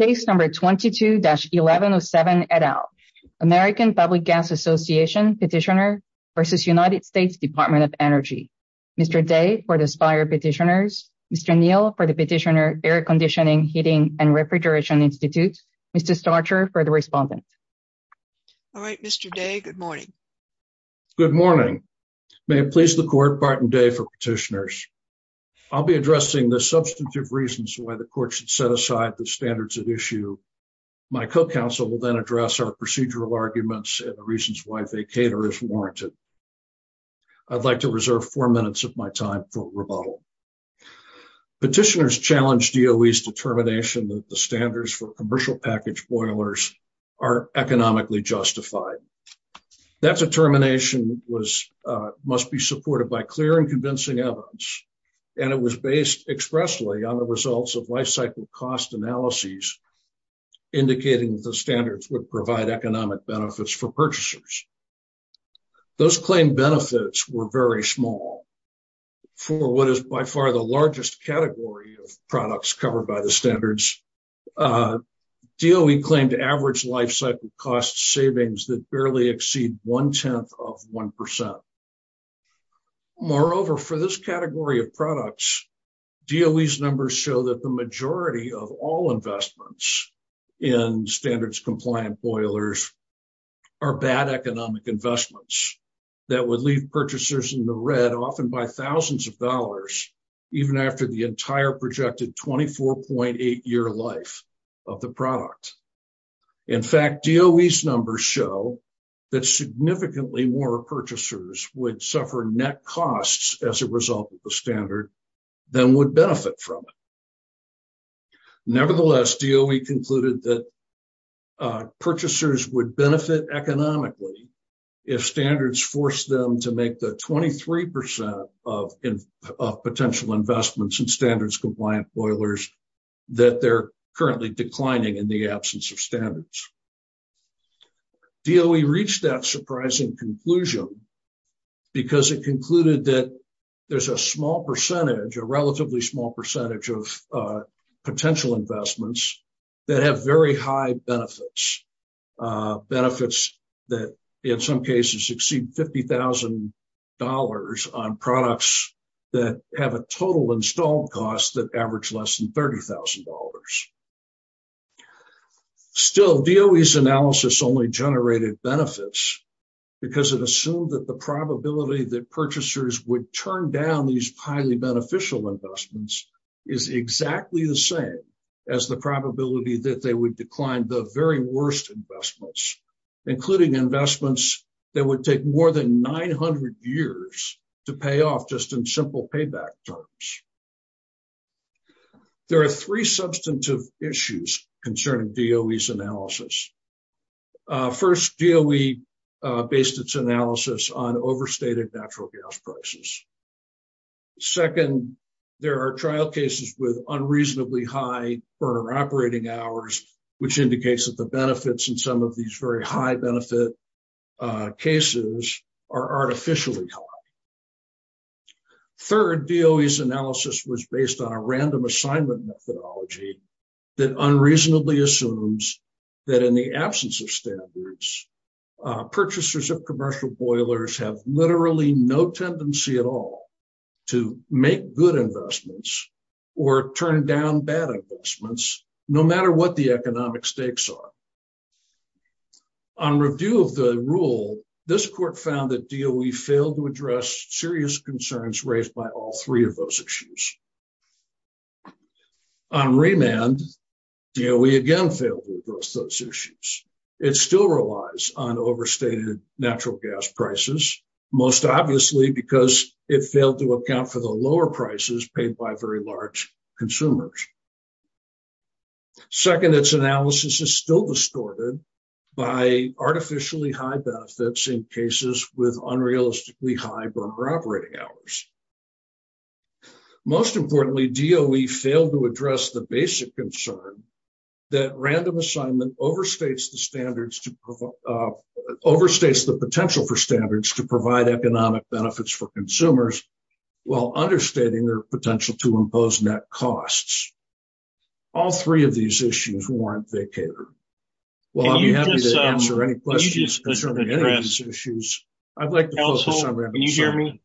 Case number 22-1107 et al. American Public Gas Association petitioner versus United States Department of Energy. Mr. Day for the SPIRE petitioners. Mr. Neal for the petitioner Air Conditioning, Heating, and Refrigeration Institute. Mr. Starcher for the respondent. All right, Mr. Day, good morning. Good morning. May it please the court, Barton Day for petitioners. I'll be addressing the substantive reasons why the court should set aside the standards at issue. My co-counsel will then address our procedural arguments and the reasons why vacator is warranted. I'd like to reserve four minutes of my time for rebuttal. Petitioners challenge DOE's determination that the standards for commercial package boilers are economically justified. That determination must be supported by clear and convincing evidence, and it was based expressly on the results of life cycle cost analyses indicating that the standards would provide economic benefits for purchasers. Those claimed benefits were very small. For what is by far the largest category of products covered by the standards, DOE claimed average life cycle cost savings that barely exceed one-tenth of one percent. Moreover, for this category of products, DOE's numbers show that the majority of all investments in standards compliant boilers are bad economic investments that would leave a 2.8-year life of the product. In fact, DOE's numbers show that significantly more purchasers would suffer net costs as a result of the standard than would benefit from it. Nevertheless, DOE concluded that purchasers would benefit economically if standards forced them to make the 23 percent of potential investments in standards compliant boilers that they're currently declining in the absence of standards. DOE reached that surprising conclusion because it concluded that there's a small percentage, a relatively small percentage of potential investments that have very high benefits. Benefits that in some cases exceed $50,000 on products that have a total installed cost that average less than $30,000. Still, DOE's analysis only generated benefits because it assumed that the probability that purchasers would turn down these highly beneficial investments is exactly the same as the probability that they would decline the very worst investments, including investments that would take more than 900 years to pay off just in simple payback terms. There are three substantive issues concerning DOE's analysis. First, DOE based its analysis on overstated natural gas prices. Second, there are trial cases with unreasonably high operating hours, which indicates that the benefits in some of these very high benefit cases are artificially high. Third, DOE's analysis was based on a random assignment methodology that unreasonably assumes that in the absence of standards, purchasers of commercial boilers have literally no tendency at all to make good investments or turn down bad investments, no matter what the economic stakes are. On review of the rule, this court found that DOE failed to address serious concerns raised by all three of those issues. On remand, DOE again failed to address those issues. It still relies on overstated natural prices, most obviously because it failed to account for the lower prices paid by very large consumers. Second, its analysis is still distorted by artificially high benefits in cases with unrealistically high burner operating hours. Most importantly, DOE failed to address the basic concern that random assignment overstates the potential for standards to provide economic benefits for consumers, while understating their potential to impose net costs. All three of these issues warrant vacater. Well, I'll be happy to answer any questions concerning any of these issues. I'd like to focus on random assignment.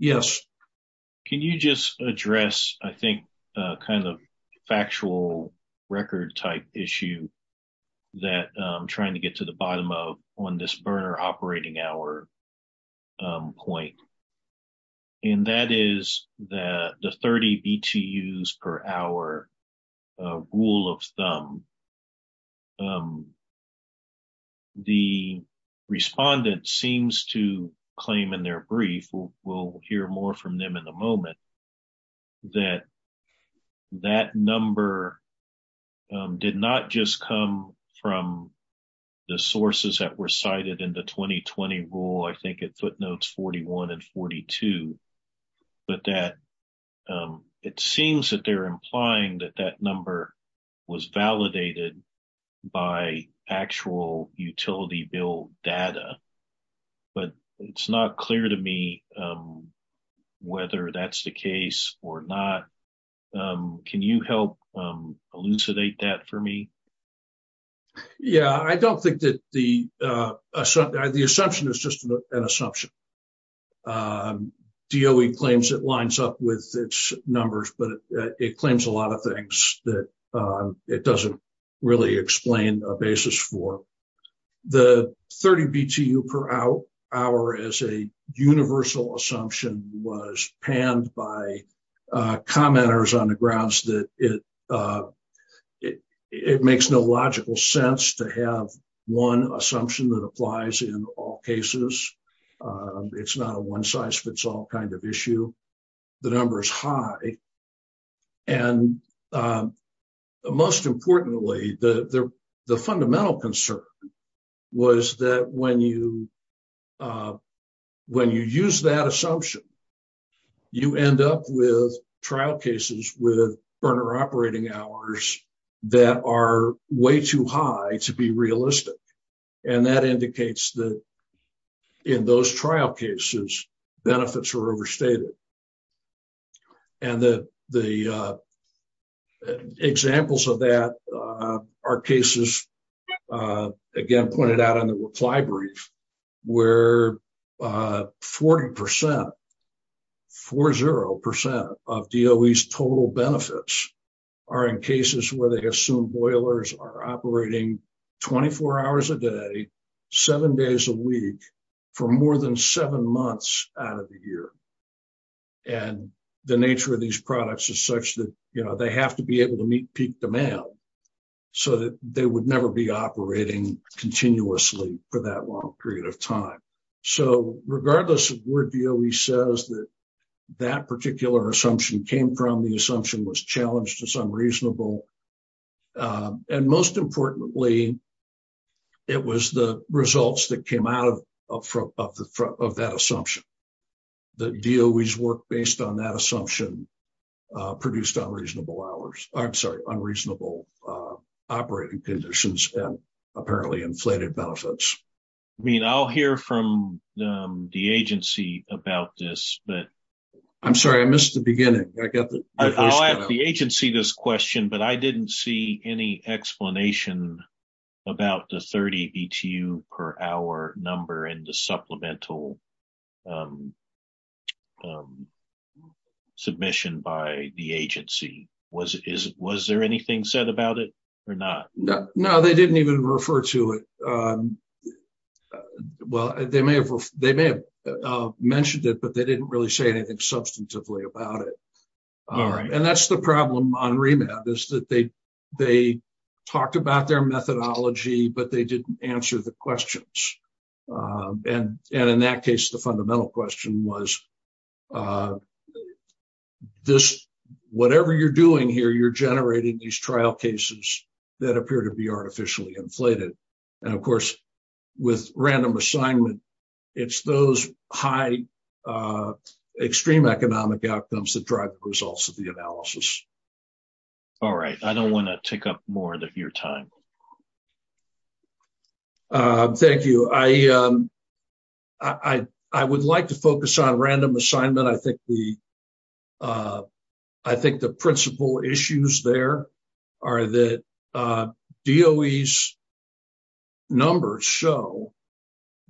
Can you just address, I think, a kind of factual record type issue that I'm trying to get to the bottom of on this burner operating hour point? And that is the 30 BTUs per hour rule of thumb. And the respondent seems to claim in their brief, we'll hear more from them in a moment, that that number did not just come from the sources that were cited in the 2020 rule, I think it footnotes 41 and 42, but that it seems that they're implying that that number was validated by actual utility bill data. But it's not clear to me whether that's the case or not. Can you help elucidate that for me? Yeah, I don't think that the assumption is just an assumption. DOE claims it lines up with its numbers, but it claims a lot of things that it doesn't really explain a basis for. The 30 BTU per hour as a universal assumption was panned by commenters on the grounds that it makes no logical sense to have one assumption that applies in all cases. It's not a one size fits all kind of issue. The number is high. And most importantly, the fundamental concern was that when you use that assumption, you end up with trial cases with burner operating hours that are way too high to be realistic. And that indicates that in those trial cases, benefits are overstated. And the examples of that are cases, again, pointed out in the reply brief, where 40%, 40% of DOE's total benefits are in cases where they assume boilers are operating 24 hours a day, seven days a week for more than seven months out of the year. And the nature of these products is such that they have to be able to meet peak demand so that they would never be operating continuously for that long period of time. So regardless of where DOE says that that particular assumption came from, the assumption was challenged as unreasonable. And most importantly, it was the results that came out of that assumption. The DOE's work based on that assumption produced unreasonable hours, I'm sorry, unreasonable operating conditions and apparently inflated benefits. I mean, I'll hear from the agency about this, but I'm sorry, I missed the beginning. I'll ask the agency this question, but I didn't see any explanation about the 30 BTU per hour number and the supplemental submission by the agency. Was there anything said about it or not? No, they didn't even refer to it. Well, they may have mentioned it, but they didn't really say anything substantively about it. And that's the problem on Remap is that they talked about their methodology, but they didn't answer the questions. And in that case, the fundamental question was, is this, whatever you're doing here, you're generating these trial cases that appear to be artificially inflated. And of course, with random assignment, it's those high extreme economic outcomes that drive the results of the analysis. All right. I don't want to take up more of your time. Thank you. I would like to focus on random assignment. I think the principle issues there are that DOE's numbers show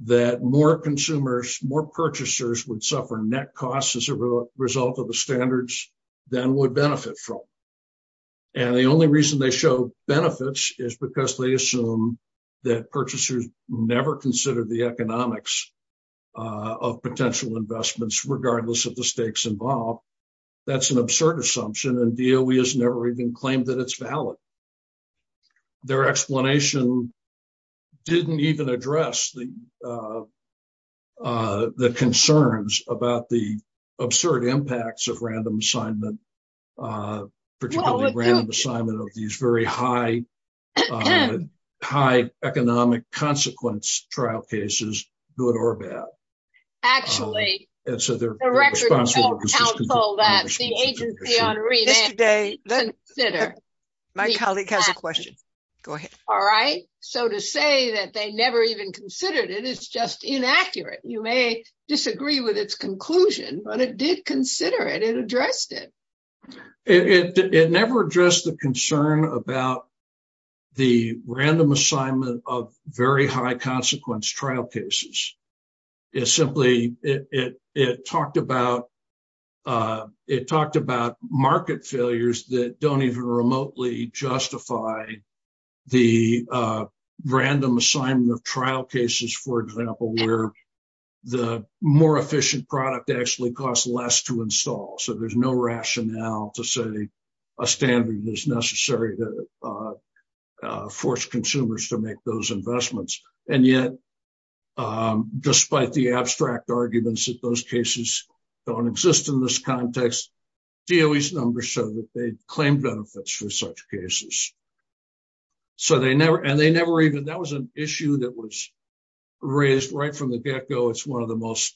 that more consumers, more purchasers would suffer net costs as a result of the standards than would benefit from. And the only reason they show benefits is because they assume that purchasers never consider the economics of potential investments, regardless of the stakes involved. That's an absurd assumption, and DOE has never even claimed that it's valid. Their explanation didn't even address the concerns about the absurd impacts of random assignment, particularly random assignment of these very high economic consequence trial cases, good or bad. Actually, the records don't counsel that. The agency on remand, consider. My colleague has a question. Go ahead. All right. So to say that they never even considered it is just inaccurate. You may disagree with its conclusion, but it did consider it. It addressed it. It never addressed the concern about the random assignment of very high consequence trial cases. It simply, it talked about market failures that don't even remotely justify the random assignment of trial cases, for example, where the more efficient product actually costs less to install. So there's no rationale to say a standard is necessary to force consumers to make those investments. And yet, despite the abstract arguments that those cases don't exist in this context, DOE's numbers show that they claim benefits for such cases. So they never, and they never even, that was an issue that was raised right from the get go. It's one of the most,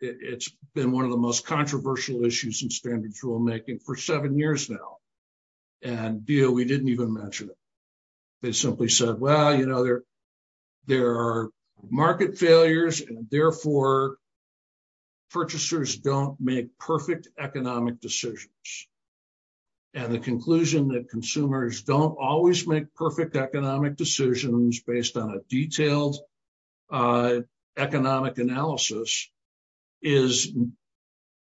it's been one of the most controversial issues in standards rulemaking for seven years now. And DOE didn't even mention it. They simply said, well, there are market failures and therefore purchasers don't make perfect economic decisions. And the conclusion that consumers don't always make perfect economic decisions based on a detailed economic analysis is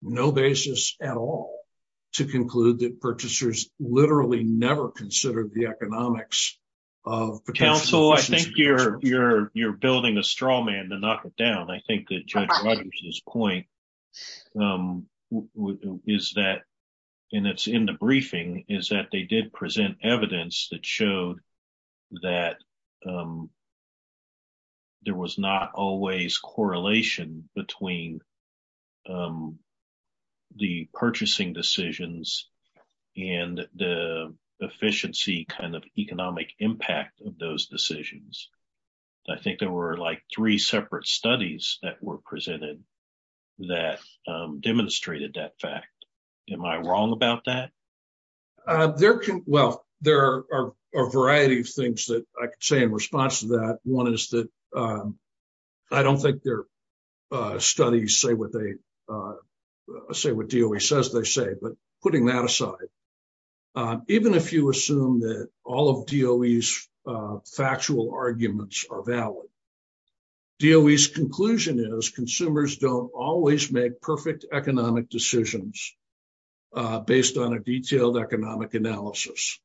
no basis at all to conclude that purchasers literally never considered the economics of- Counsel, I think you're building a straw man to knock it down. I think that Judge Rogers' point is that, and it's in the briefing, is that they did present evidence that showed that there was not always correlation between the purchasing decisions and the efficiency kind of economic impact of those decisions. I think there were like three separate studies that were demonstrated that fact. Am I wrong about that? Well, there are a variety of things that I could say in response to that. One is that I don't think their studies say what DOE says they say, but putting that aside, even if you assume that all of DOE's factual arguments are valid, DOE's conclusion is consumers don't always make perfect economic decisions based on a detailed economic analysis.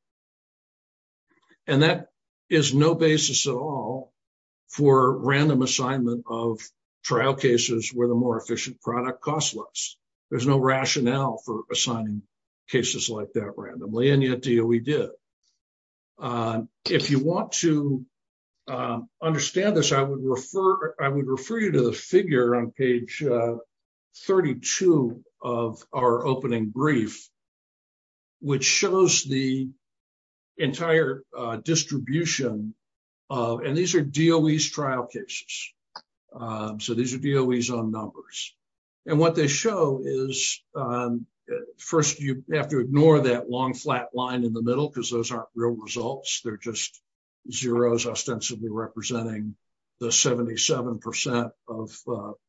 And that is no basis at all for random assignment of trial cases where the more efficient product costs less. There's no rationale for assigning cases like that randomly, and yet DOE did. If you want to understand this, I would refer you to the figure on page 32 of our opening brief, which shows the entire distribution of- and these are numbers. And what they show is, first, you have to ignore that long flat line in the middle, because those aren't real results. They're just zeros ostensibly representing the 77% of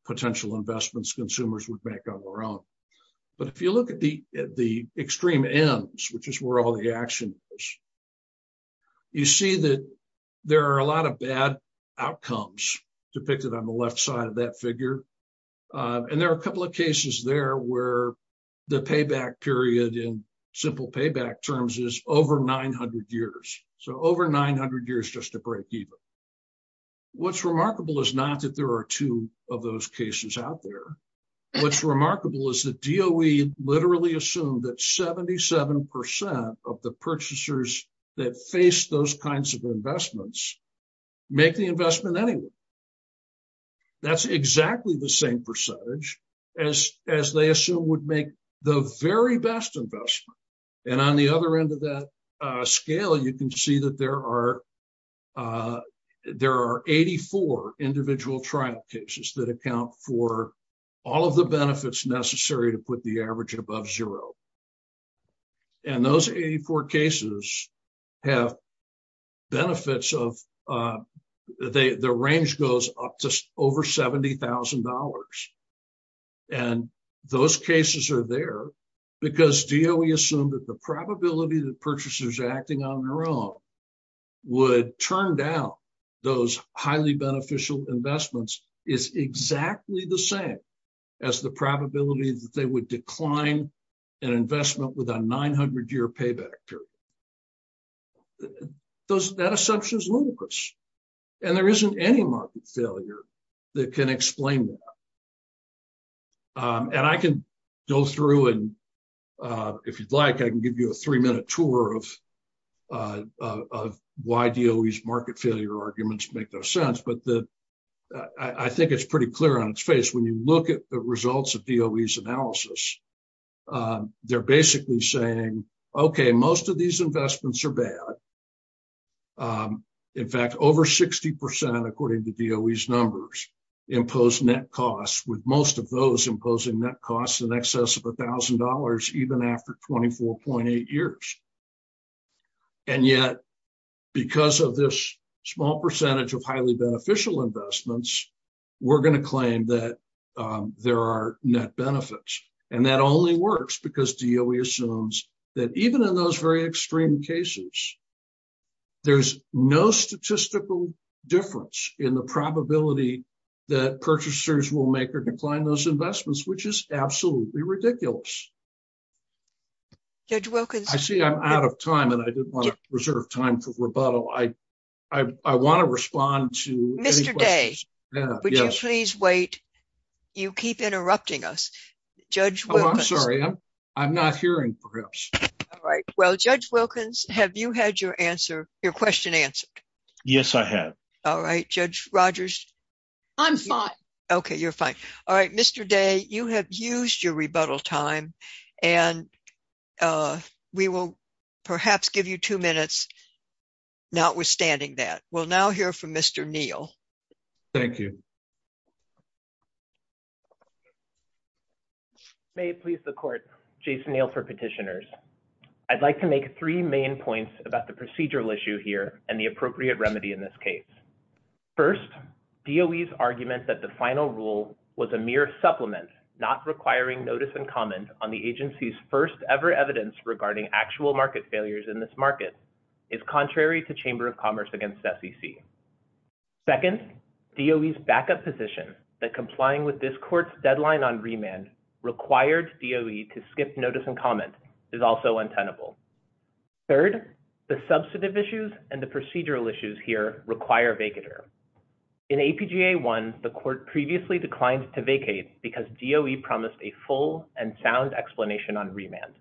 potential investments consumers would make on their own. But if you look at the extreme ends, which is where all the action is, you see that there are a lot of bad outcomes depicted on the left side of that figure. And there are a couple of cases there where the payback period in simple payback terms is over 900 years. So over 900 years just to break even. What's remarkable is not that there are two of those cases out there. What's remarkable is that DOE literally assumed that 77% of the purchasers that face those kinds of investments make the investment anyway. That's exactly the same percentage as they assume would make the very best investment. And on the other end of that scale, you can see that there are 84 individual trial cases that account for all of the benefits necessary to put the average above zero. And those 84 cases have benefits of the range goes up to over $70,000. And those cases are there because DOE assumed that the probability that purchasers acting on their own would turn down those highly beneficial investments is exactly the same as the probability that they would decline an investment with a 900-year payback period. That assumption is ludicrous. And there isn't any market failure that can explain that. And I can go through and if you'd like, I can give you a three-minute tour of why DOE's market failure arguments make no sense. But I think it's pretty clear on its face. When you look at the results of DOE's analysis, they're basically saying, okay, most of these investments are bad. In fact, over 60%, according to DOE's numbers, impose net costs with most of those imposing net costs in excess of $1,000, even after 24.8 years. And yet, because of this small percentage of highly beneficial investments, we're going to claim that there are net benefits. And that only works because DOE assumes that even in those very extreme cases, there's no statistical difference in the probability that purchasers will make or decline those investments, which is absolutely ridiculous. I see I'm out of time and I didn't reserve time for rebuttal. I want to respond to... Mr. Day, would you please wait? You keep interrupting us. Judge Wilkins... Oh, I'm sorry. I'm not hearing, perhaps. All right. Well, Judge Wilkins, have you had your question answered? Yes, I have. All right. Judge Rogers? I'm fine. Okay, you're fine. All right. Mr. Day, you have used your rebuttal time and we will perhaps give you two minutes, notwithstanding that. We'll now hear from Mr. Neal. Thank you. May it please the Court, Jason Neal for Petitioners. I'd like to make three main points about the procedural issue here and the appropriate remedy in this case. First, DOE's argument that the final rule was a mere supplement, not requiring notice and comment on the agency's first-ever evidence regarding actual market failures in this market is contrary to Chamber of Commerce against SEC. Second, DOE's backup position that complying with this Court's deadline on remand required DOE to skip notice and comment is also untenable. Third, the substantive issues and the procedural issues here require vacater. In APGA 1, the Court previously declined to vacate because DOE promised a full and sound explanation on remand.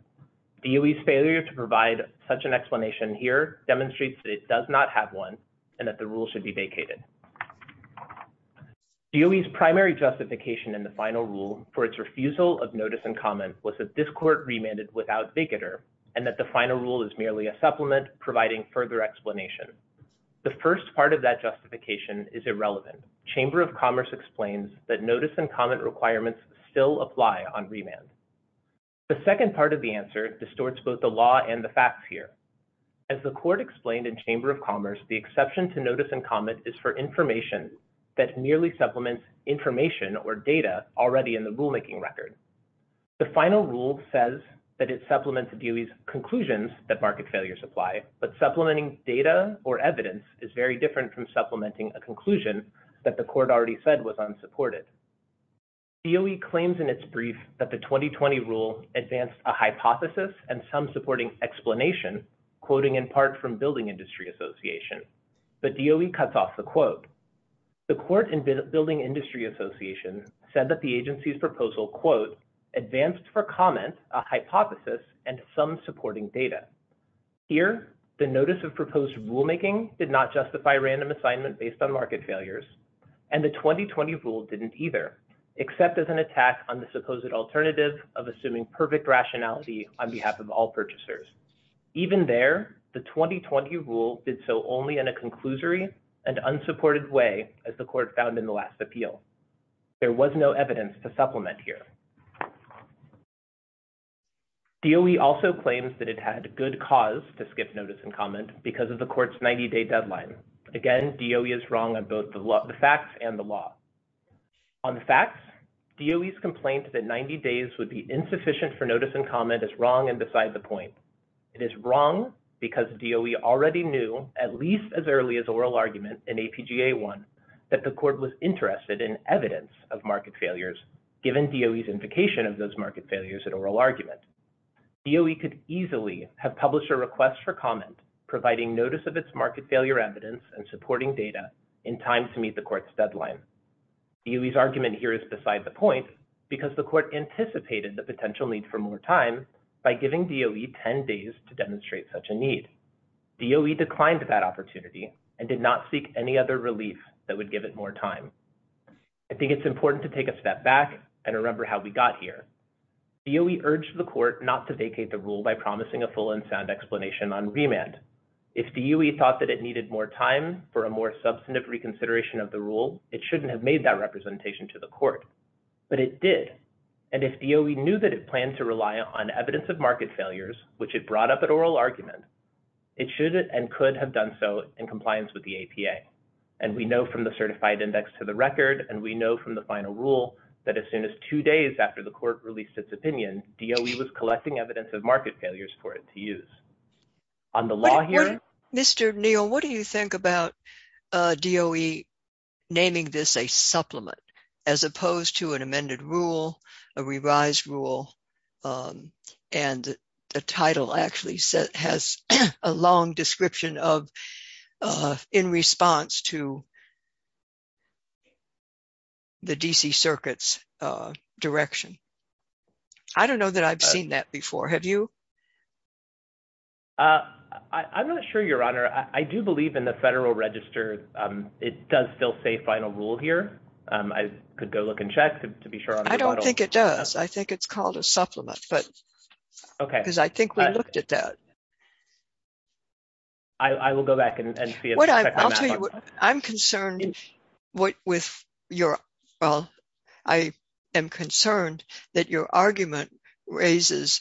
DOE's failure to provide such an explanation here demonstrates that it does not have one and that the rule should be vacated. DOE's primary justification in the final rule for its refusal of notice and comment was that this Court remanded without vacater and that the final rule is merely a supplement providing further explanation. The first part of that justification is irrelevant. Chamber of Commerce explains that notice and comment requirements still apply on remand. The second part of the answer distorts both the law and the facts here. As the Court explained in Chamber of Commerce, the exception to notice and comment is for information that merely supplements information or data already in the rulemaking record. The final rule says that it supplements DOE's conclusions that market failures apply, but supplementing data or evidence is very different from supplementing a conclusion that the Court already said was unsupported. DOE claims in its brief that the 2020 rule advanced a hypothesis and some supporting explanation, quoting in part from Building Industry Association, but DOE cuts off the quote. The Court and Building Industry Association said the agency's proposal, quote, advanced for comment a hypothesis and some supporting data. Here, the notice of proposed rulemaking did not justify random assignment based on market failures and the 2020 rule didn't either, except as an attack on the supposed alternative of assuming perfect rationality on behalf of all purchasers. Even there, the 2020 rule did so only in a supplement here. DOE also claims that it had good cause to skip notice and comment because of the Court's 90-day deadline. Again, DOE is wrong on both the facts and the law. On the facts, DOE's complaint that 90 days would be insufficient for notice and comment is wrong and beside the point. It is wrong because DOE already knew, at least as early as oral argument in APGA 1, that the Court was interested in evidence of market failures given DOE's invocation of those market failures in oral argument. DOE could easily have published a request for comment providing notice of its market failure evidence and supporting data in time to meet the Court's deadline. DOE's argument here is beside the point because the Court anticipated the potential need for more time by giving DOE 10 days to demonstrate such a need. DOE declined that opportunity and did not seek any other relief that would give it more time. I think it's important to take a step back and remember how we got here. DOE urged the Court not to vacate the rule by promising a full and sound explanation on remand. If DOE thought that it needed more time for a more substantive reconsideration of the rule, it shouldn't have made that representation to the Court. But it did. And if DOE knew that it should and could have done so in compliance with the APA, and we know from the certified index to the record, and we know from the final rule that as soon as two days after the Court released its opinion, DOE was collecting evidence of market failures for it to use. On the law here... Mr. Neal, what do you think about DOE naming this a supplement as opposed to an amended rule, a revised rule, and the title actually has a long description in response to the D.C. Circuit's direction? I don't know that I've seen that before. Have you? I'm not sure, Your Honor. I do believe in the Federal Register, it does still say final rule here. I could go look and check to be sure. I don't think it does. I think it's called a supplement, but... Okay. Because I think we looked at that. I will go back and see. I'm concerned with your... Well, I am concerned that your argument raises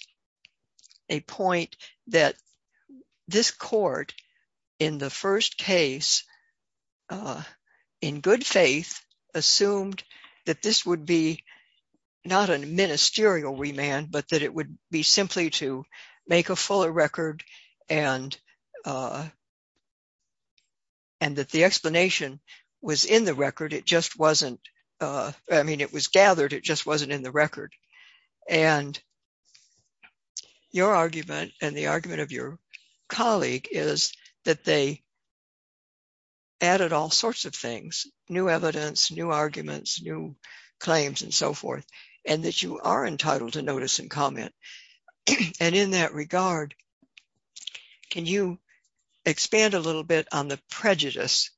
a point that this Court in the first case, in good faith, assumed that this would be not a ministerial remand, but that it would be simply to make a fuller record and that the explanation was in the record. It just wasn't... I mean, it was gathered, it just wasn't in the record. And your argument and the argument of your colleague is that they added all sorts of things, new evidence, new arguments, new claims, and so forth, and that you are entitled to notice and comment. And in that regard, can you expand a little bit on the prejudice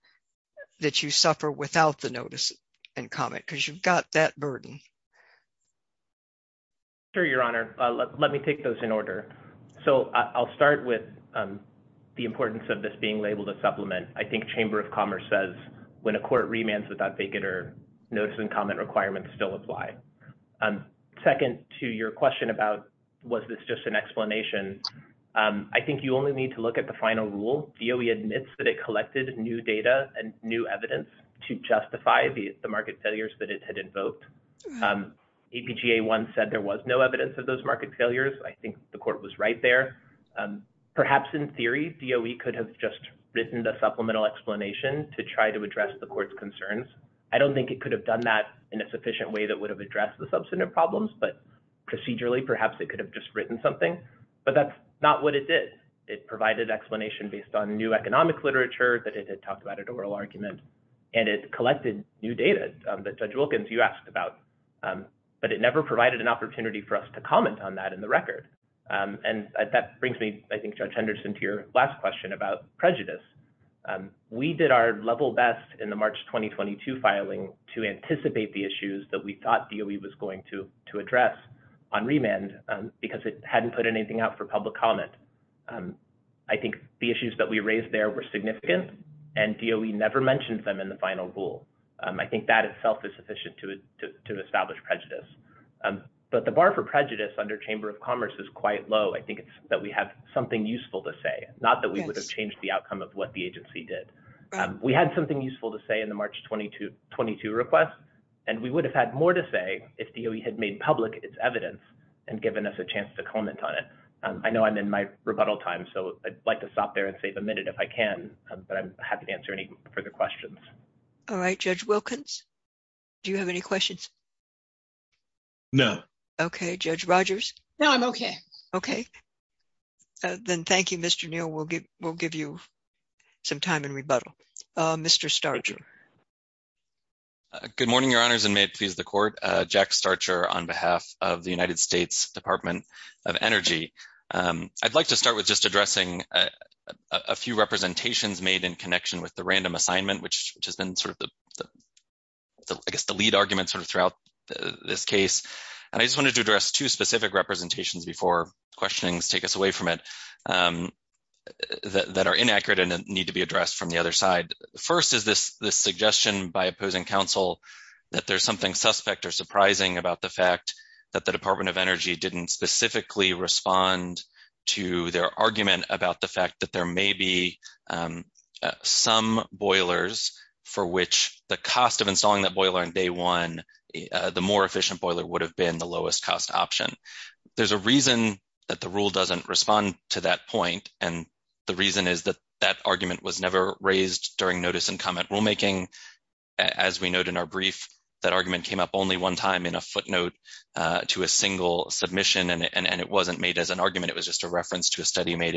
that you suffer without the notice and comment? Because you've got that in your record. Sure, Your Honor. Let me take those in order. So I'll start with the importance of this being labeled a supplement. I think Chamber of Commerce says when a court remands without vacater, notice and comment requirements still apply. Second to your question about was this just an explanation, I think you only need to look at the final rule. DOE admits that it collected new data and new evidence to justify the market failures that it had invoked. APGA1 said there was no evidence of those market failures. I think the court was right there. Perhaps in theory, DOE could have just written a supplemental explanation to try to address the court's concerns. I don't think it could have done that in a sufficient way that would have addressed the substantive problems, but procedurally, perhaps it could have just written something. But that's not what it did. It provided explanation based on new economic literature that it had talked about at oral argument, and it collected new data that Judge Wilkins, you asked about. But it never provided an opportunity for us to comment on that in the record. And that brings me, I think, Judge Henderson, to your last question about prejudice. We did our level best in the March 2022 filing to anticipate the issues that we thought DOE was going to address on remand because it hadn't put anything out for public comment. I think the issues that we raised there were significant, and DOE never mentioned them in the final rule. I think that itself is sufficient to establish prejudice. But the bar for prejudice under Chamber of Commerce is quite low. I think it's that we have something useful to say, not that we would have changed the outcome of what the agency did. We had something useful to say in the March 2022 request, and we would have had more to say if DOE had made public its evidence and my rebuttal time. So, I'd like to stop there and save a minute if I can, but I'm happy to answer any further questions. All right. Judge Wilkins, do you have any questions? No. Okay. Judge Rogers? No, I'm okay. Okay. Then thank you, Mr. Neal. We'll give you some time in rebuttal. Mr. Starcher. Good morning, Your Honors, and may it please the Court. Jack Starcher on behalf of the United I'd like to start with just addressing a few representations made in connection with the random assignment, which has been sort of, I guess, the lead argument throughout this case. And I just wanted to address two specific representations before questionings take us away from it that are inaccurate and need to be addressed from the other side. First is this suggestion by opposing counsel that there's something suspect or surprising about the fact that the Department of Energy didn't specifically respond to their argument about the fact that there may be some boilers for which the cost of installing that boiler on day one, the more efficient boiler would have been the lowest cost option. There's a reason that the rule doesn't respond to that point, and the reason is that that argument was never raised during notice and comment rulemaking. As we note in our brief, that argument came up only one time in a footnote to a single submission, and it wasn't made as an argument. It was just a reference to a study made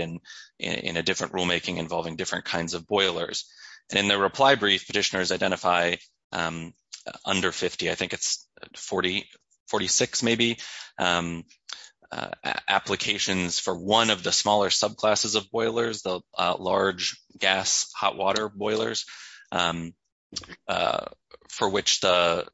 in a different rulemaking involving different kinds of boilers. And in the reply brief, petitioners identify under 50, I think it's 46 maybe, applications for one of the smaller subclasses of boilers, the large gas hot water boilers, for which the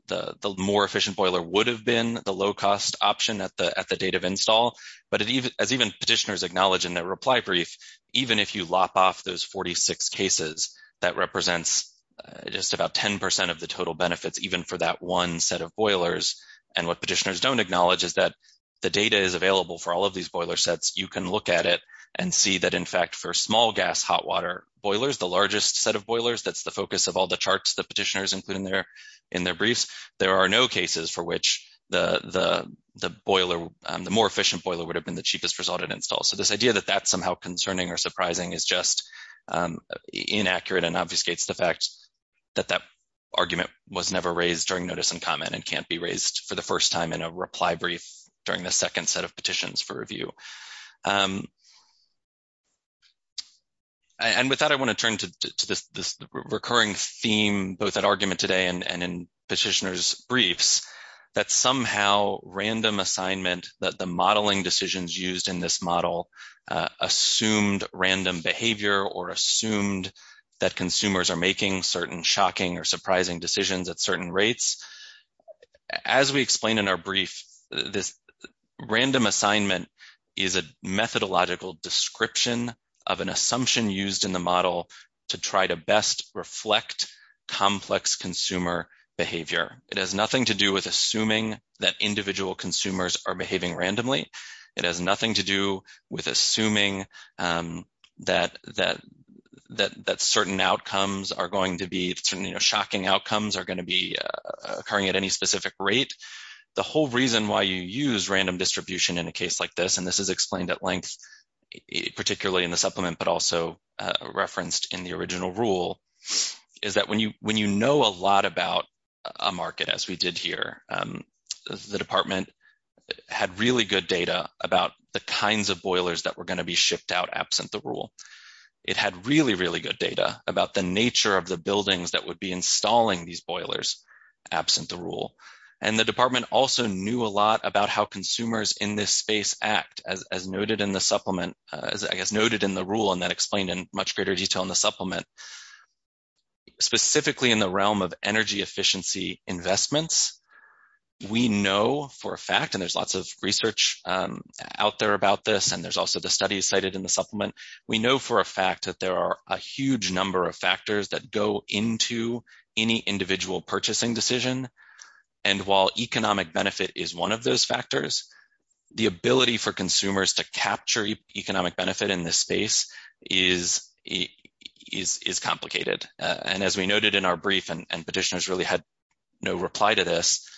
more efficient boiler would have been the low cost option at the date of install. But as even petitioners acknowledge in their reply brief, even if you lop off those 46 cases, that represents just about 10 percent of the total benefits even for that one set of boilers. And what petitioners don't acknowledge is that the data is available for all of these boiler sets. You can look at it and see that, in fact, for small gas hot water boilers, the largest set of boilers, that's the focus of all charts the petitioners include in their briefs, there are no cases for which the more efficient boiler would have been the cheapest result at install. So this idea that that's somehow concerning or surprising is just inaccurate and obfuscates the fact that that argument was never raised during notice and comment and can't be raised for the first time in a reply brief during the second set of petitions for review. And with that, I want to turn to this recurring theme, both at argument today and in petitioners' briefs, that somehow random assignment that the modeling decisions used in this model assumed random behavior or assumed that consumers are making certain shocking or surprising decisions at certain rates. As we explain in our brief, this random assignment is a methodological description of an assumption used in the model to try to best reflect complex consumer behavior. It has nothing to do with assuming that individual consumers are behaving randomly. It has nothing to do with assuming that certain outcomes are going to be, you know, shocking outcomes are going to be occurring at any specific rate. The whole reason why you use random distribution in a case like this, and this is explained at length, particularly in the supplement, but also referenced in the original rule, is that when you know a lot about a market, as we did here, the department had really good data about the kinds of boilers that were going to be shipped out absent the rule. It had really, really good data about the nature of the buildings that would be installing these and the department also knew a lot about how consumers in this space act, as noted in the supplement, as noted in the rule, and that explained in much greater detail in the supplement. Specifically in the realm of energy efficiency investments, we know for a fact, and there's lots of research out there about this, and there's also the studies cited in the supplement, we know for a fact that there are a huge number of factors that go into any individual purchasing decision, and while economic benefit is one of those factors, the ability for consumers to capture economic benefit in this space is complicated, and as we noted in our brief, and petitioners really had no reply to this,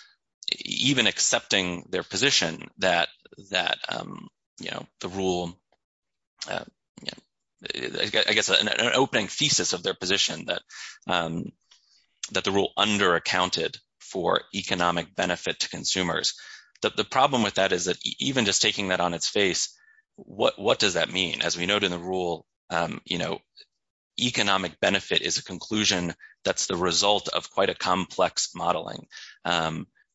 even accepting their position that, you know, the rule, yeah, I guess an opening thesis of their position that the rule under-accounted for economic benefit to consumers, that the problem with that is that even just taking that on its face, what does that mean? As we noted in the rule, you know, economic benefit is a conclusion that's the result of quite a complex modeling.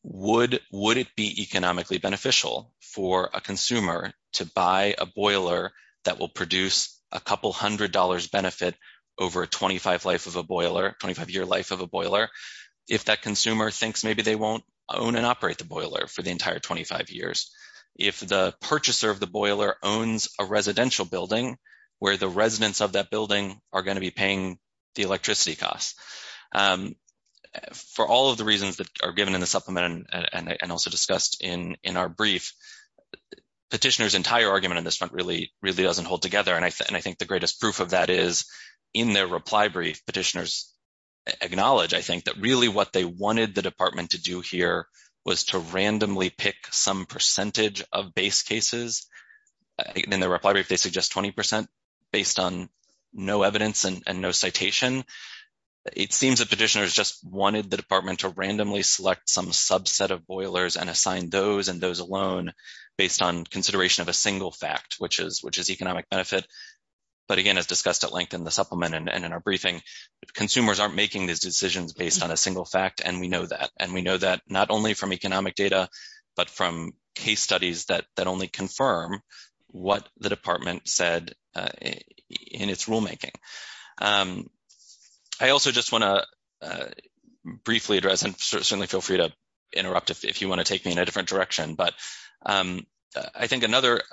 Would it be economically beneficial for a consumer to buy a boiler that will produce a couple hundred dollars benefit over a 25 life of a boiler, 25-year life of a boiler, if that consumer thinks maybe they won't own and operate the boiler for the entire 25 years? If the purchaser of the boiler owns a residential building where the residents of that building are going to be paying the electricity costs? For all of the reasons that are given in the supplement and also discussed in our brief, petitioners' entire argument in this front really doesn't hold together, and I think the greatest proof of that is in their reply brief, petitioners acknowledge, I think, that really what they wanted the department to do here was to randomly pick some percentage of base cases. In their reply brief, they suggest 20 percent based on no evidence and no citation. It seems that petitioners just wanted the some subset of boilers and assign those and those alone based on consideration of a single fact, which is economic benefit. But again, as discussed at length in the supplement and in our briefing, consumers aren't making these decisions based on a single fact, and we know that, and we know that not only from economic data but from case studies that only confirm what the department said in its rulemaking. I also just want to briefly address, and certainly feel free to interrupt if you want to take me in a different direction, but I think another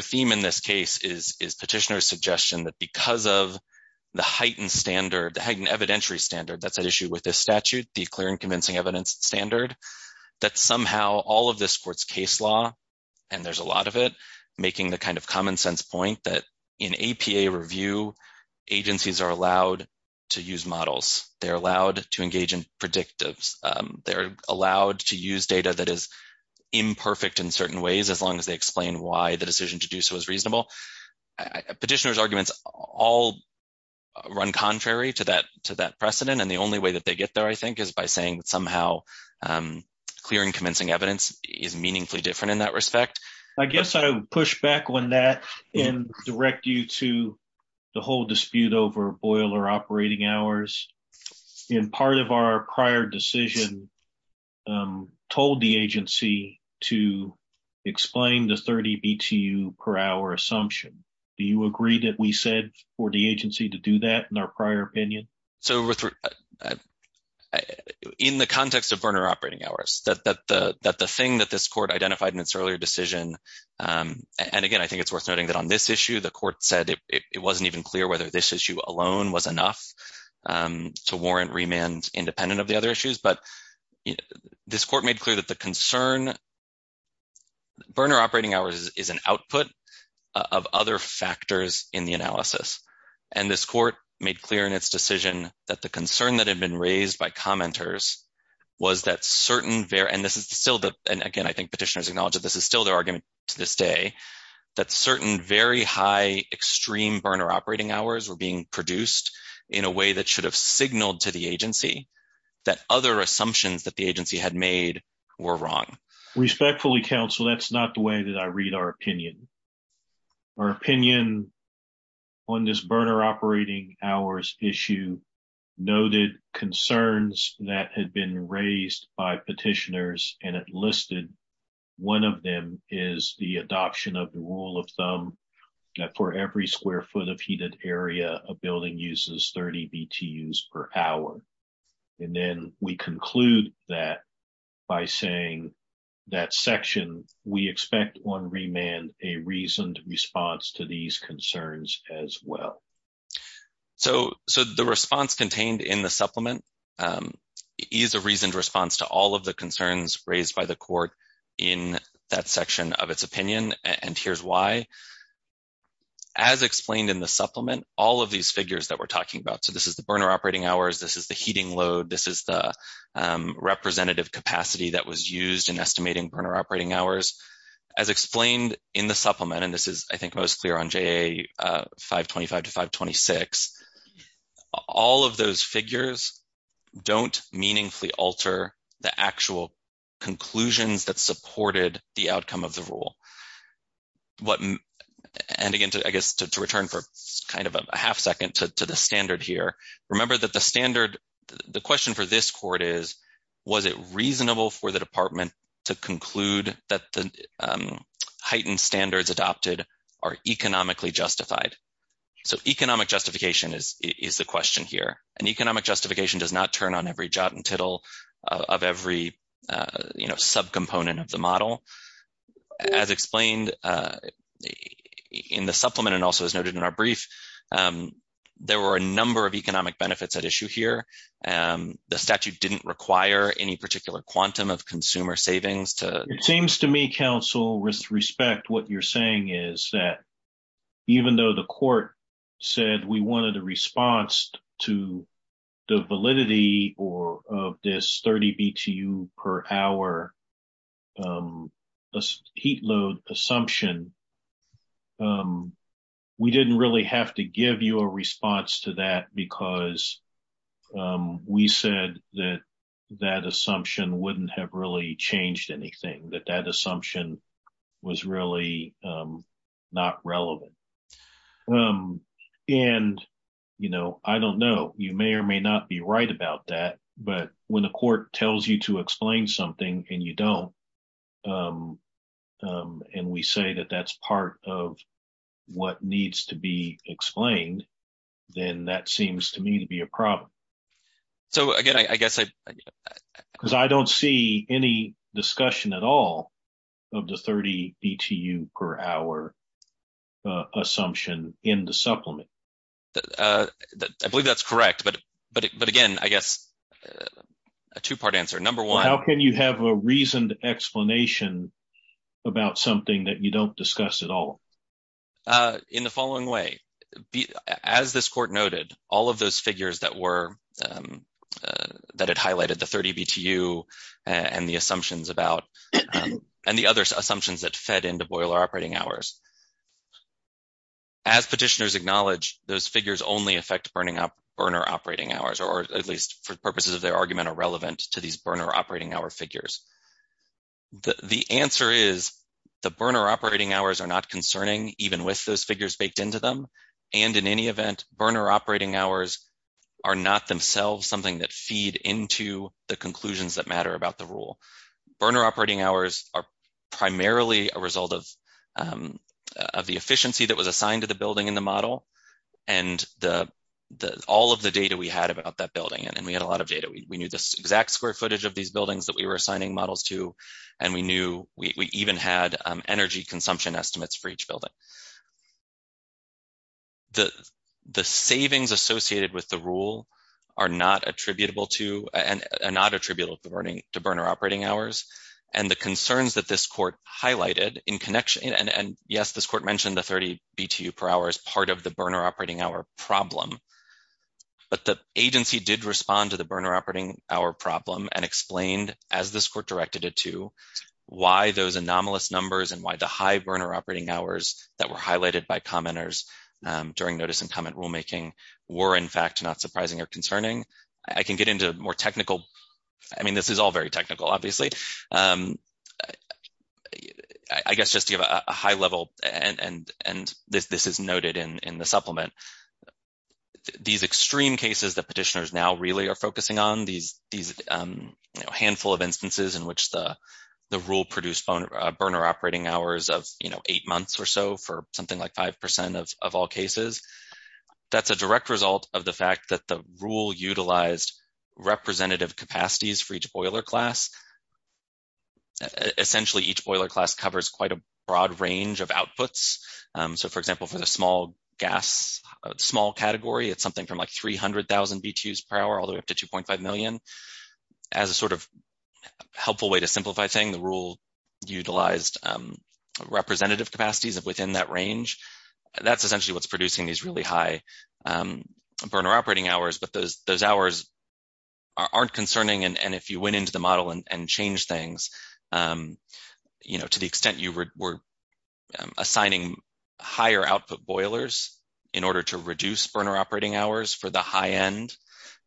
theme in this case is petitioners' suggestion that because of the heightened standard, the heightened evidentiary standard that's at issue with this statute, the clear and convincing evidence standard, that somehow all of this supports case law, and there's a lot of it, making the kind of APA review agencies are allowed to use models. They're allowed to engage in predictives. They're allowed to use data that is imperfect in certain ways as long as they explain why the decision to do so is reasonable. Petitioners' arguments all run contrary to that precedent, and the only way that they get there, I think, is by saying that somehow clear and convincing evidence is meaningfully different in that respect. I guess I would push back on that and direct you to the whole dispute over boiler operating hours. Part of our prior decision told the agency to explain the 30 BTU per hour assumption. Do you agree that we said for the agency to do that in our prior opinion? So, in the context of burner operating hours, that the thing that this court identified in its earlier decision, and again, I think it's worth noting that on this issue, the court said it wasn't even clear whether this issue alone was enough to warrant remand independent of the other issues, but this court made clear that the concern, burner operating hours is an output of other factors in the analysis, and this court made clear in its decision that the concern that had been raised by commenters was that certain, and this is still, and again, I think petitioners acknowledge that this is still their argument to this day, that certain very high extreme burner operating hours were being produced in a way that should have signaled to the agency that other assumptions that the agency had made were wrong. Respectfully counsel, that's not the way that I read our opinion. Our opinion on this burner operating hours issue noted concerns that had been raised by petitioners and it listed one of them is the adoption of the rule of thumb that for every square foot of heated area, a building uses 30 BTUs per hour, and then we conclude that by saying that section, we expect on remand a reasoned response to these concerns as well. So the response contained in the supplement is a reasoned response to all of the concerns raised by the court in that section of its opinion, and here's why. As explained in the supplement, all of these figures that we're talking about, so this is the burner operating hours, this is the heating load, this is the representative capacity that was used in estimating burner operating hours, as explained in the supplement, and this is I think most clear on JA 525 to 526, all of those figures don't meaningfully alter the actual conclusions that supported the outcome of the rule. And again, I guess to return for kind of a half second to the standard here, remember that the standard, the question for this court is, was it reasonable for the department to conclude that the heightened standards adopted are economically justified? So economic justification is the question here, and economic justification does not turn on every jot and tittle of every, you know, subcomponent of the model. As explained in the supplement and also as noted in our brief, there were a number of economic benefits at issue here. The statute didn't require any particular quantum of consumer savings to- It seems to me, counsel, with respect what you're saying is that even though the court said we wanted a response to the validity of this per hour heat load assumption, we didn't really have to give you a response to that because we said that that assumption wouldn't have really changed anything, that that assumption was really not relevant. And, you know, I don't know, you may or may not be right about that, but when the court tells you to explain something and you don't, and we say that that's part of what needs to be explained, then that seems to me to be a problem. So again, I guess I- Because I don't see any discussion at all of the 30 BTU per hour assumption in the supplement. I believe that's correct, but again, I guess- A two-part answer. Number one- How can you have a reasoned explanation about something that you don't discuss at all? In the following way, as this court noted, all of those figures that were- that had highlighted the 30 BTU and the assumptions about- and the other assumptions that fed into boiler operating hours. As petitioners acknowledge, those figures only affect burner operating hours, or at least for their argument are relevant to these burner operating hour figures. The answer is the burner operating hours are not concerning, even with those figures baked into them. And in any event, burner operating hours are not themselves something that feed into the conclusions that matter about the rule. Burner operating hours are primarily a result of the efficiency that was assigned to the building in the model, and the- all of the data we had about that building, and we had a lot of data. We knew the exact square footage of these buildings that we were assigning models to, and we knew- we even had energy consumption estimates for each building. The savings associated with the rule are not attributable to- and not attributable to burner operating hours, and the concerns that this court highlighted in connection- and yes, this court mentioned the 30 BTU per hour as part of the burner operating hour problem, but the agency did respond to the burner operating hour problem and explained, as this court directed it to, why those anomalous numbers and why the high burner operating hours that were highlighted by commenters during notice and comment rulemaking were, in fact, not surprising or concerning. I can get into more technical- I mean, this is all very technical, obviously. I guess just to give a high level, and this is noted in the supplement, these extreme cases that petitioners now really are focusing on, these handful of instances in which the rule produced burner operating hours of, you know, eight months or so for something like five percent of all cases, that's a direct result of the fact that the rule utilized representative capacities for each boiler class. Essentially, each boiler class covers quite a 300,000 BTUs per hour, all the way up to 2.5 million. As a sort of helpful way to simplify things, the rule utilized representative capacities within that range. That's essentially what's producing these really high burner operating hours, but those hours aren't concerning, and if you went into the model and changed things, you know, to the extent you were assigning higher output boilers in order to reduce burner operating hours for the high end,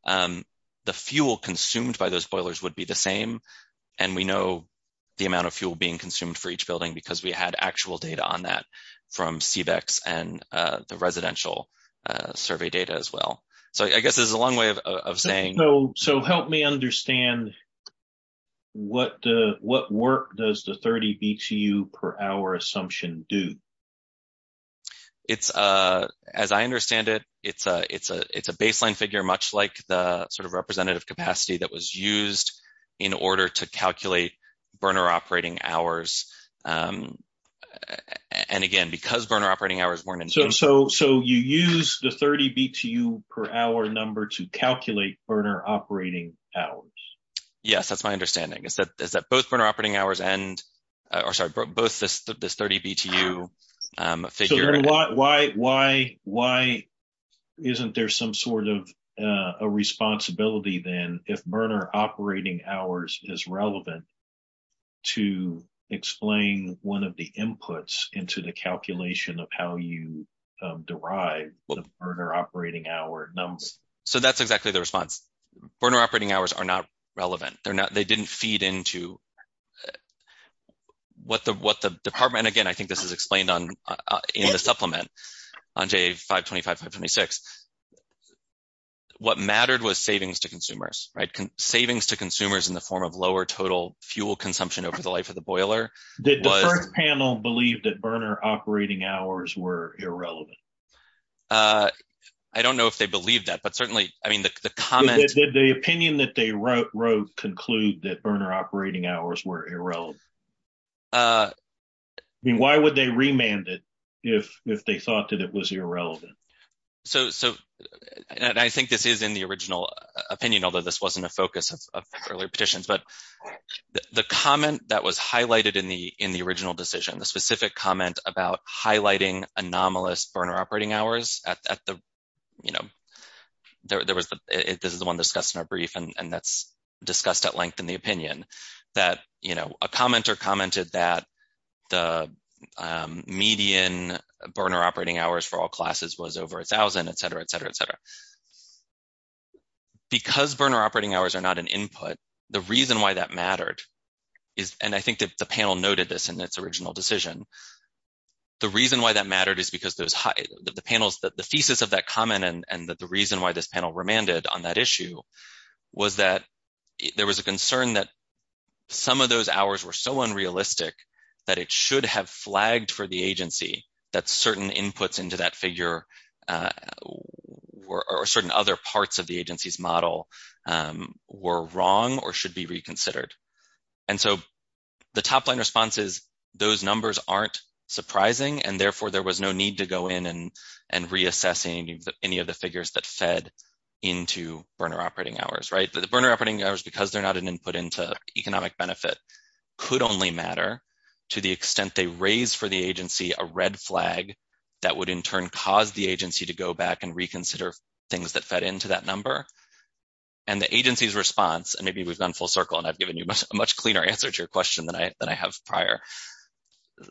the fuel consumed by those boilers would be the same, and we know the amount of fuel being consumed for each building because we had actual data on that from CVEX and the residential survey data as well. So, I guess there's a long way of saying- So, help me understand, what work does the 30 BTU per hour assumption do? It's, as I understand it, it's a baseline figure, much like the sort of representative capacity that was used in order to calculate burner operating hours, and again, because burner operating hours weren't- So, you use the 30 BTU per hour number to calculate burner operating hours? Yes, that's my understanding. Is that both burner operating hours and, or sorry, both this 30 BTU figure- So, why isn't there some sort of a responsibility then if burner operating hours is relevant to explain one of the inputs into the calculation of how you derive the burner operating hour numbers? So, that's exactly the response. Burner operating hours are not relevant. They're not, they didn't feed into what the department, again, I think this is explained in the supplement on J525, 526. What mattered was savings to consumers, right? Savings to consumers in the form of lower total fuel consumption over the life of the boiler. Did the first panel believe that burner operating hours were irrelevant? I don't know if they believed that, but certainly, I mean, the comment- Did the opinion that they wrote conclude that burner operating hours were irrelevant? I mean, why would they remand it if they thought that it was irrelevant? So, and I think this is in the original opinion, although this wasn't a focus of earlier petitions, but the comment that was highlighted in the original decision, the specific comment about highlighting anomalous burner operating hours at the, you know, there was the, this is the one discussed in our brief, and that's discussed at length in the opinion, that, you know, a commenter commented that the median burner operating hours for all classes was over a thousand, etc., etc., etc. Because burner operating hours are not an input, the reason why that mattered is, and I think the panel noted this in its original decision, the reason why that mattered is because those high, the panels, the thesis of that comment, and the reason why this panel remanded on that issue was that there was a concern that some of those hours were so unrealistic that it should have flagged for the agency that certain inputs into that figure or certain other parts of the agency's model were wrong or should be surprising, and therefore there was no need to go in and reassess any of the figures that fed into burner operating hours, right? The burner operating hours, because they're not an input into economic benefit, could only matter to the extent they raise for the agency a red flag that would in turn cause the agency to go back and reconsider things that fed into that number, and the agency's response, and maybe we've gone full circle and I've given you a much cleaner answer to your question than I have prior,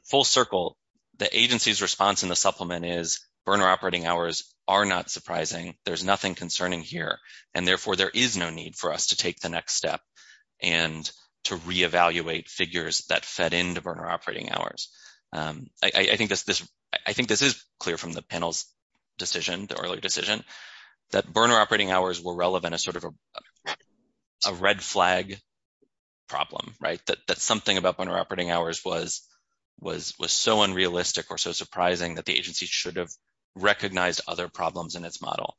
full circle, the agency's response in the supplement is burner operating hours are not surprising, there's nothing concerning here, and therefore there is no need for us to take the next step and to reevaluate figures that fed into burner operating hours. I think this is clear from the panel's decision, the earlier decision, that burner operating hours were relevant as sort of a red flag problem, right? That something about burner operating hours was so unrealistic or so surprising that the agency should have recognized other problems in its model,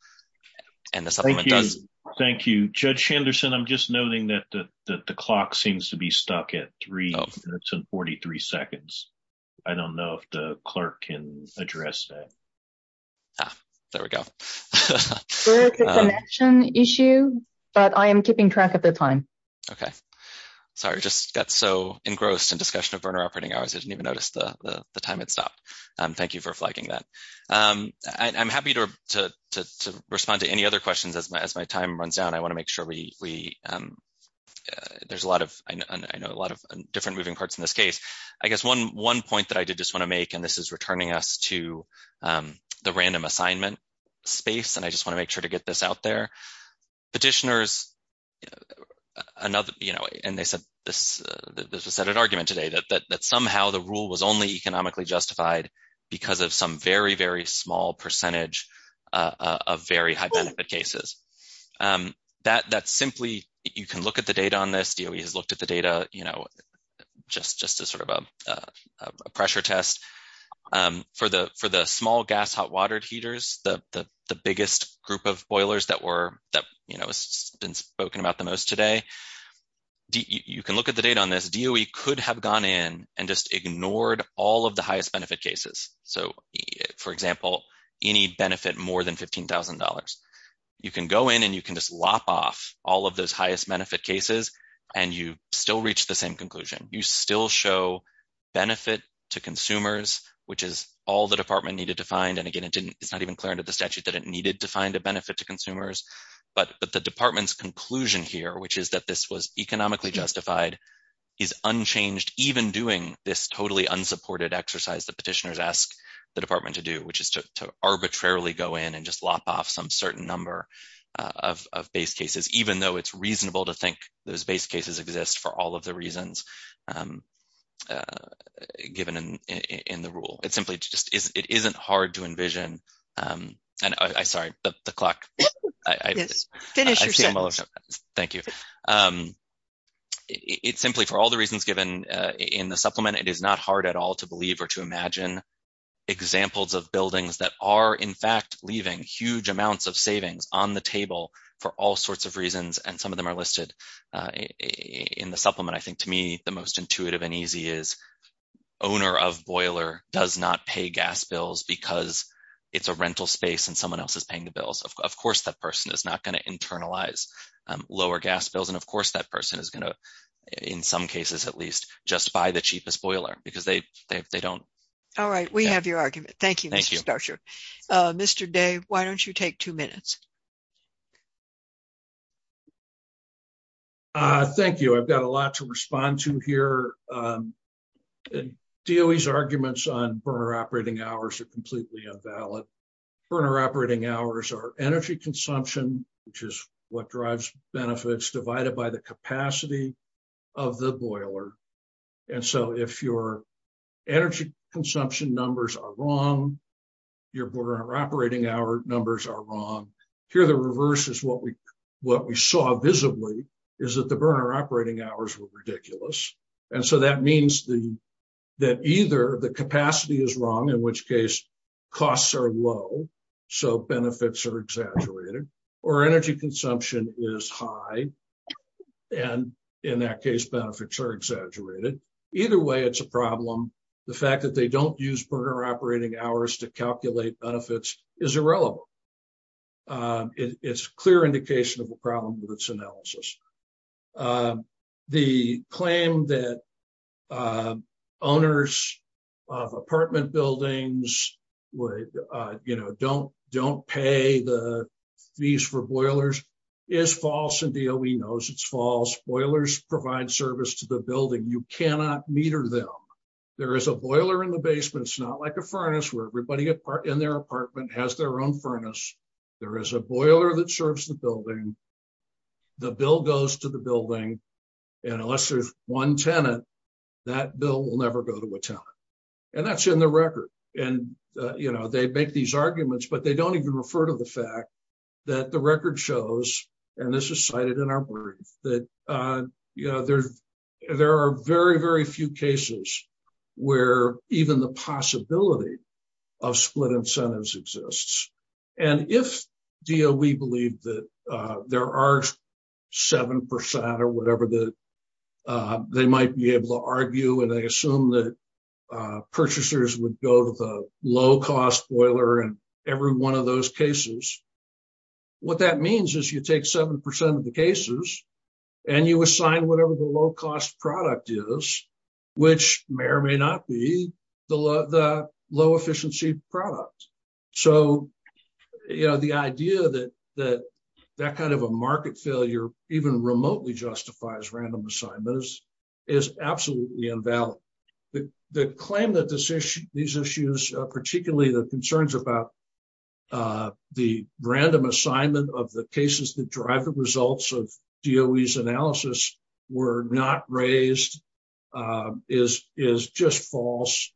and the supplement does. Thank you. Thank you. Judge Shanderson, I'm just noting that the clock seems to be stuck at three minutes and 43 seconds. I don't know if the clerk can address that. Ah, there we go. There is a connection issue, but I am keeping track of the time. Okay. Sorry, I just got so engrossed in discussion of burner operating hours, I didn't even notice the time had stopped. Thank you for flagging that. I'm happy to respond to any other questions as my time runs out. I want to make sure we, there's a lot of, I know a lot of different moving parts in this case. I guess one point that I did just want to make, and this is returning us to the random assignment space, and I just want to make sure to get this out there. Petitioners, another, you know, and they said this, there's a set of argument today that somehow the rule was only economically justified because of some very, very small percentage of very high benefit cases. That simply, you can look at the data on this, DOE has looked at the data, you know, just as sort of a pressure test. For the small gas hot water heaters, the biggest group of boilers that were, that, you know, has been spoken about the most today, you can look at the data on this. DOE could have gone in and just ignored all of the highest benefit cases. So, for example, any benefit more than $15,000. You can go in and you can just lop off all of those highest benefit cases, and you still reach the same conclusion. You still show benefit to consumers, which is all the department needed to find, and again, it didn't, it's not even clear under the statute that it needed to find a benefit to consumers, but the department's conclusion here, which is that this was economically justified, is unchanged, even doing this totally unsupported exercise that petitioners ask the department to do, which is to arbitrarily go in and just lop off some certain number of base cases, even though it's reasonable to think those base cases exist for all of the reasons given in the rule. It's simply just, it isn't hard to envision, and I'm sorry, the clock. Yes, finish your sentence. Thank you. It's simply for all the reasons given in the supplement, it is not hard at all to believe or to imagine examples of leaving huge amounts of savings on the table for all sorts of reasons, and some of them are listed in the supplement. I think to me, the most intuitive and easy is owner of boiler does not pay gas bills because it's a rental space and someone else is paying the bills. Of course, that person is not going to internalize lower gas bills, and of course, that person is going to, in some cases at least, just buy the cheapest boiler because they don't. All right, we have your argument. Thank you, Mr. Starcher. Mr. Day, why don't you take two minutes? Thank you. I've got a lot to respond to here. DOE's arguments on burner operating hours are completely invalid. Burner operating hours are energy consumption, which is what drives benefits, divided by the capacity of the boiler. If your energy consumption numbers are wrong, your burner operating hour numbers are wrong, here the reverse is what we saw visibly, is that the burner operating hours were ridiculous. That means that either the capacity is wrong, in which case costs are low, so benefits are exaggerated, or energy consumption is high, and in that case, benefits are exaggerated. Either way, it's a problem. The fact that they don't use burner operating hours to calculate benefits is irrelevant. It's a clear indication of a problem with its analysis. The claim that owners of apartment buildings don't pay the bills is false. Boilers provide service to the building. You cannot meter them. There is a boiler in the basement. It's not like a furnace where everybody in their apartment has their own furnace. There is a boiler that serves the building. The bill goes to the building, and unless there's one tenant, that bill will never go to a tenant. That's in the record. They make these arguments, but they don't even refer to the fact that the record shows, and this is cited in our brief, that there are very, very few cases where even the possibility of split incentives exists. If DOE believed that there are 7% or whatever that they might be able to argue, and they assume that purchasers would go to the low-cost boiler in every one of those cases, what that means is you take 7% of the cases, and you assign whatever the low-cost product is, which may or may not be the low-efficiency product. The idea that that kind of a market failure even remotely justifies random assignments is absolutely invalid. The claim that these issues, particularly the concerns about the random assignment of the cases that drive the results of DOE's analysis, were not raised is just false.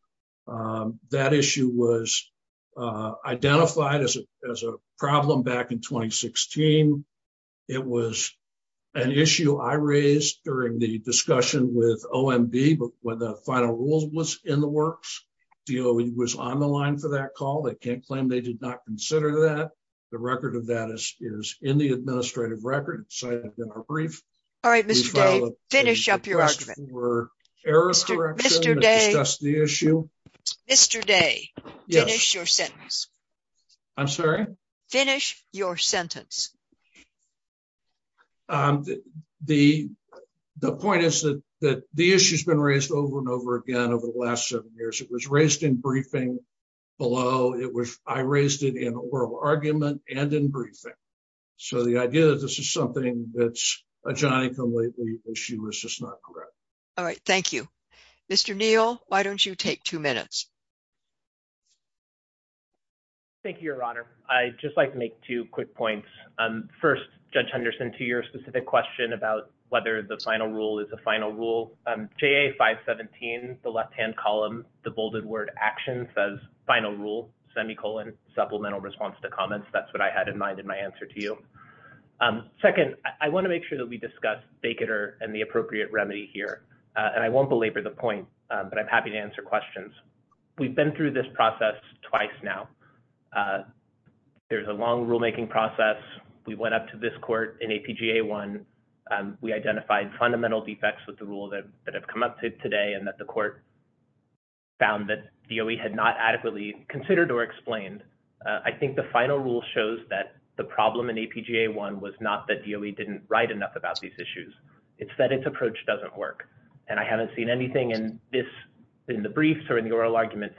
That issue was identified as a problem back in 2016. It was an issue I raised during the discussion with OMB when the final rule was in the works. DOE was on the line for that call. They can't claim they did not consider that. The record of that is in the administrative record cited in our brief. All right, Mr. Day, finish up your argument. Mr. Day, finish your sentence. The point is that the issue's been raised over and over again over the last seven years. It was raised in briefing below. I raised it in oral argument and in briefing. So, the idea that this is something that's a giant issue is just not correct. All right, thank you. Mr. Neal, why don't you take two minutes? Thank you, Your Honor. I'd just like to make two quick points. First, Judge Henderson, to your specific question about whether the final rule is a final rule, JA 517, the left-hand column, the bolded word action says final rule, semicolon, supplemental response to comments. That's what I had in mind in my answer to you. Second, I want to make sure that we discuss Bakatter and the appropriate remedy here. And I won't belabor the point, but I'm happy to answer questions. We've been through this process twice now. There's a long rulemaking process. We went up to this court in APGA 1. We identified fundamental defects with the rule that have come up today and that the court found that DOE had not adequately considered or explained. I think the final rule shows that the problem in APGA 1 was not that DOE didn't write enough about these issues. It's that its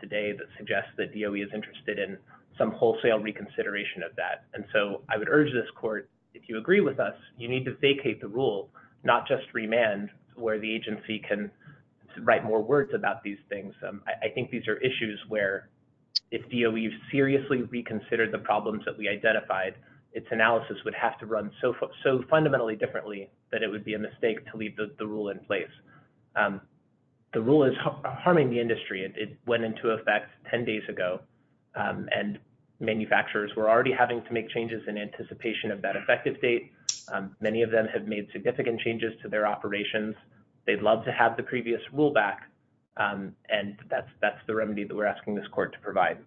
today that suggests that DOE is interested in some wholesale reconsideration of that. And so I would urge this court, if you agree with us, you need to vacate the rule, not just remand where the agency can write more words about these things. I think these are issues where if DOE seriously reconsidered the problems that we identified, its analysis would have to run so fundamentally differently that it would be a mistake to leave the rule in place. The rule is went into effect 10 days ago, and manufacturers were already having to make changes in anticipation of that effective date. Many of them have made significant changes to their operations. They'd love to have the previous rule back. And that's the remedy that we're asking this court to provide.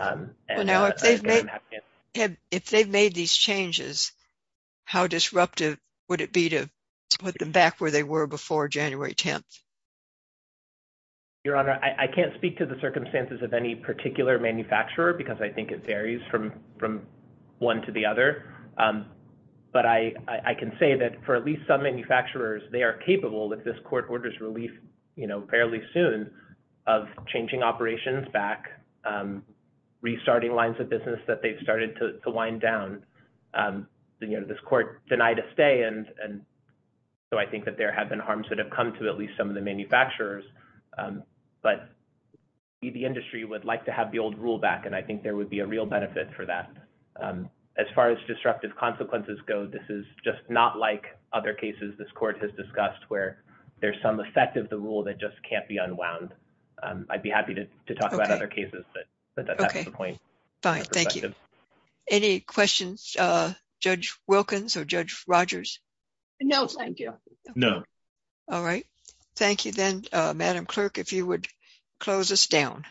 And I'm happy to answer. If they've made these changes, how disruptive would it be to put them back where they were before January 10th? Your Honor, I can't speak to the circumstances of any particular manufacturer because I think it varies from one to the other. But I can say that for at least some manufacturers, they are capable, if this court orders relief fairly soon, of changing operations back, restarting lines of business that they've started to wind down. This court denied a stay. And so I there have been harms that have come to at least some of the manufacturers. But the industry would like to have the old rule back. And I think there would be a real benefit for that. As far as disruptive consequences go, this is just not like other cases this court has discussed where there's some effect of the rule that just can't be unwound. I'd be happy to talk about other cases, but that's not the point. Okay. Fine. Thank you. Any questions? Judge Wilkins or Judge Rogers? No, thank you. No. All right. Thank you then, Madam Clerk, if you would close us down.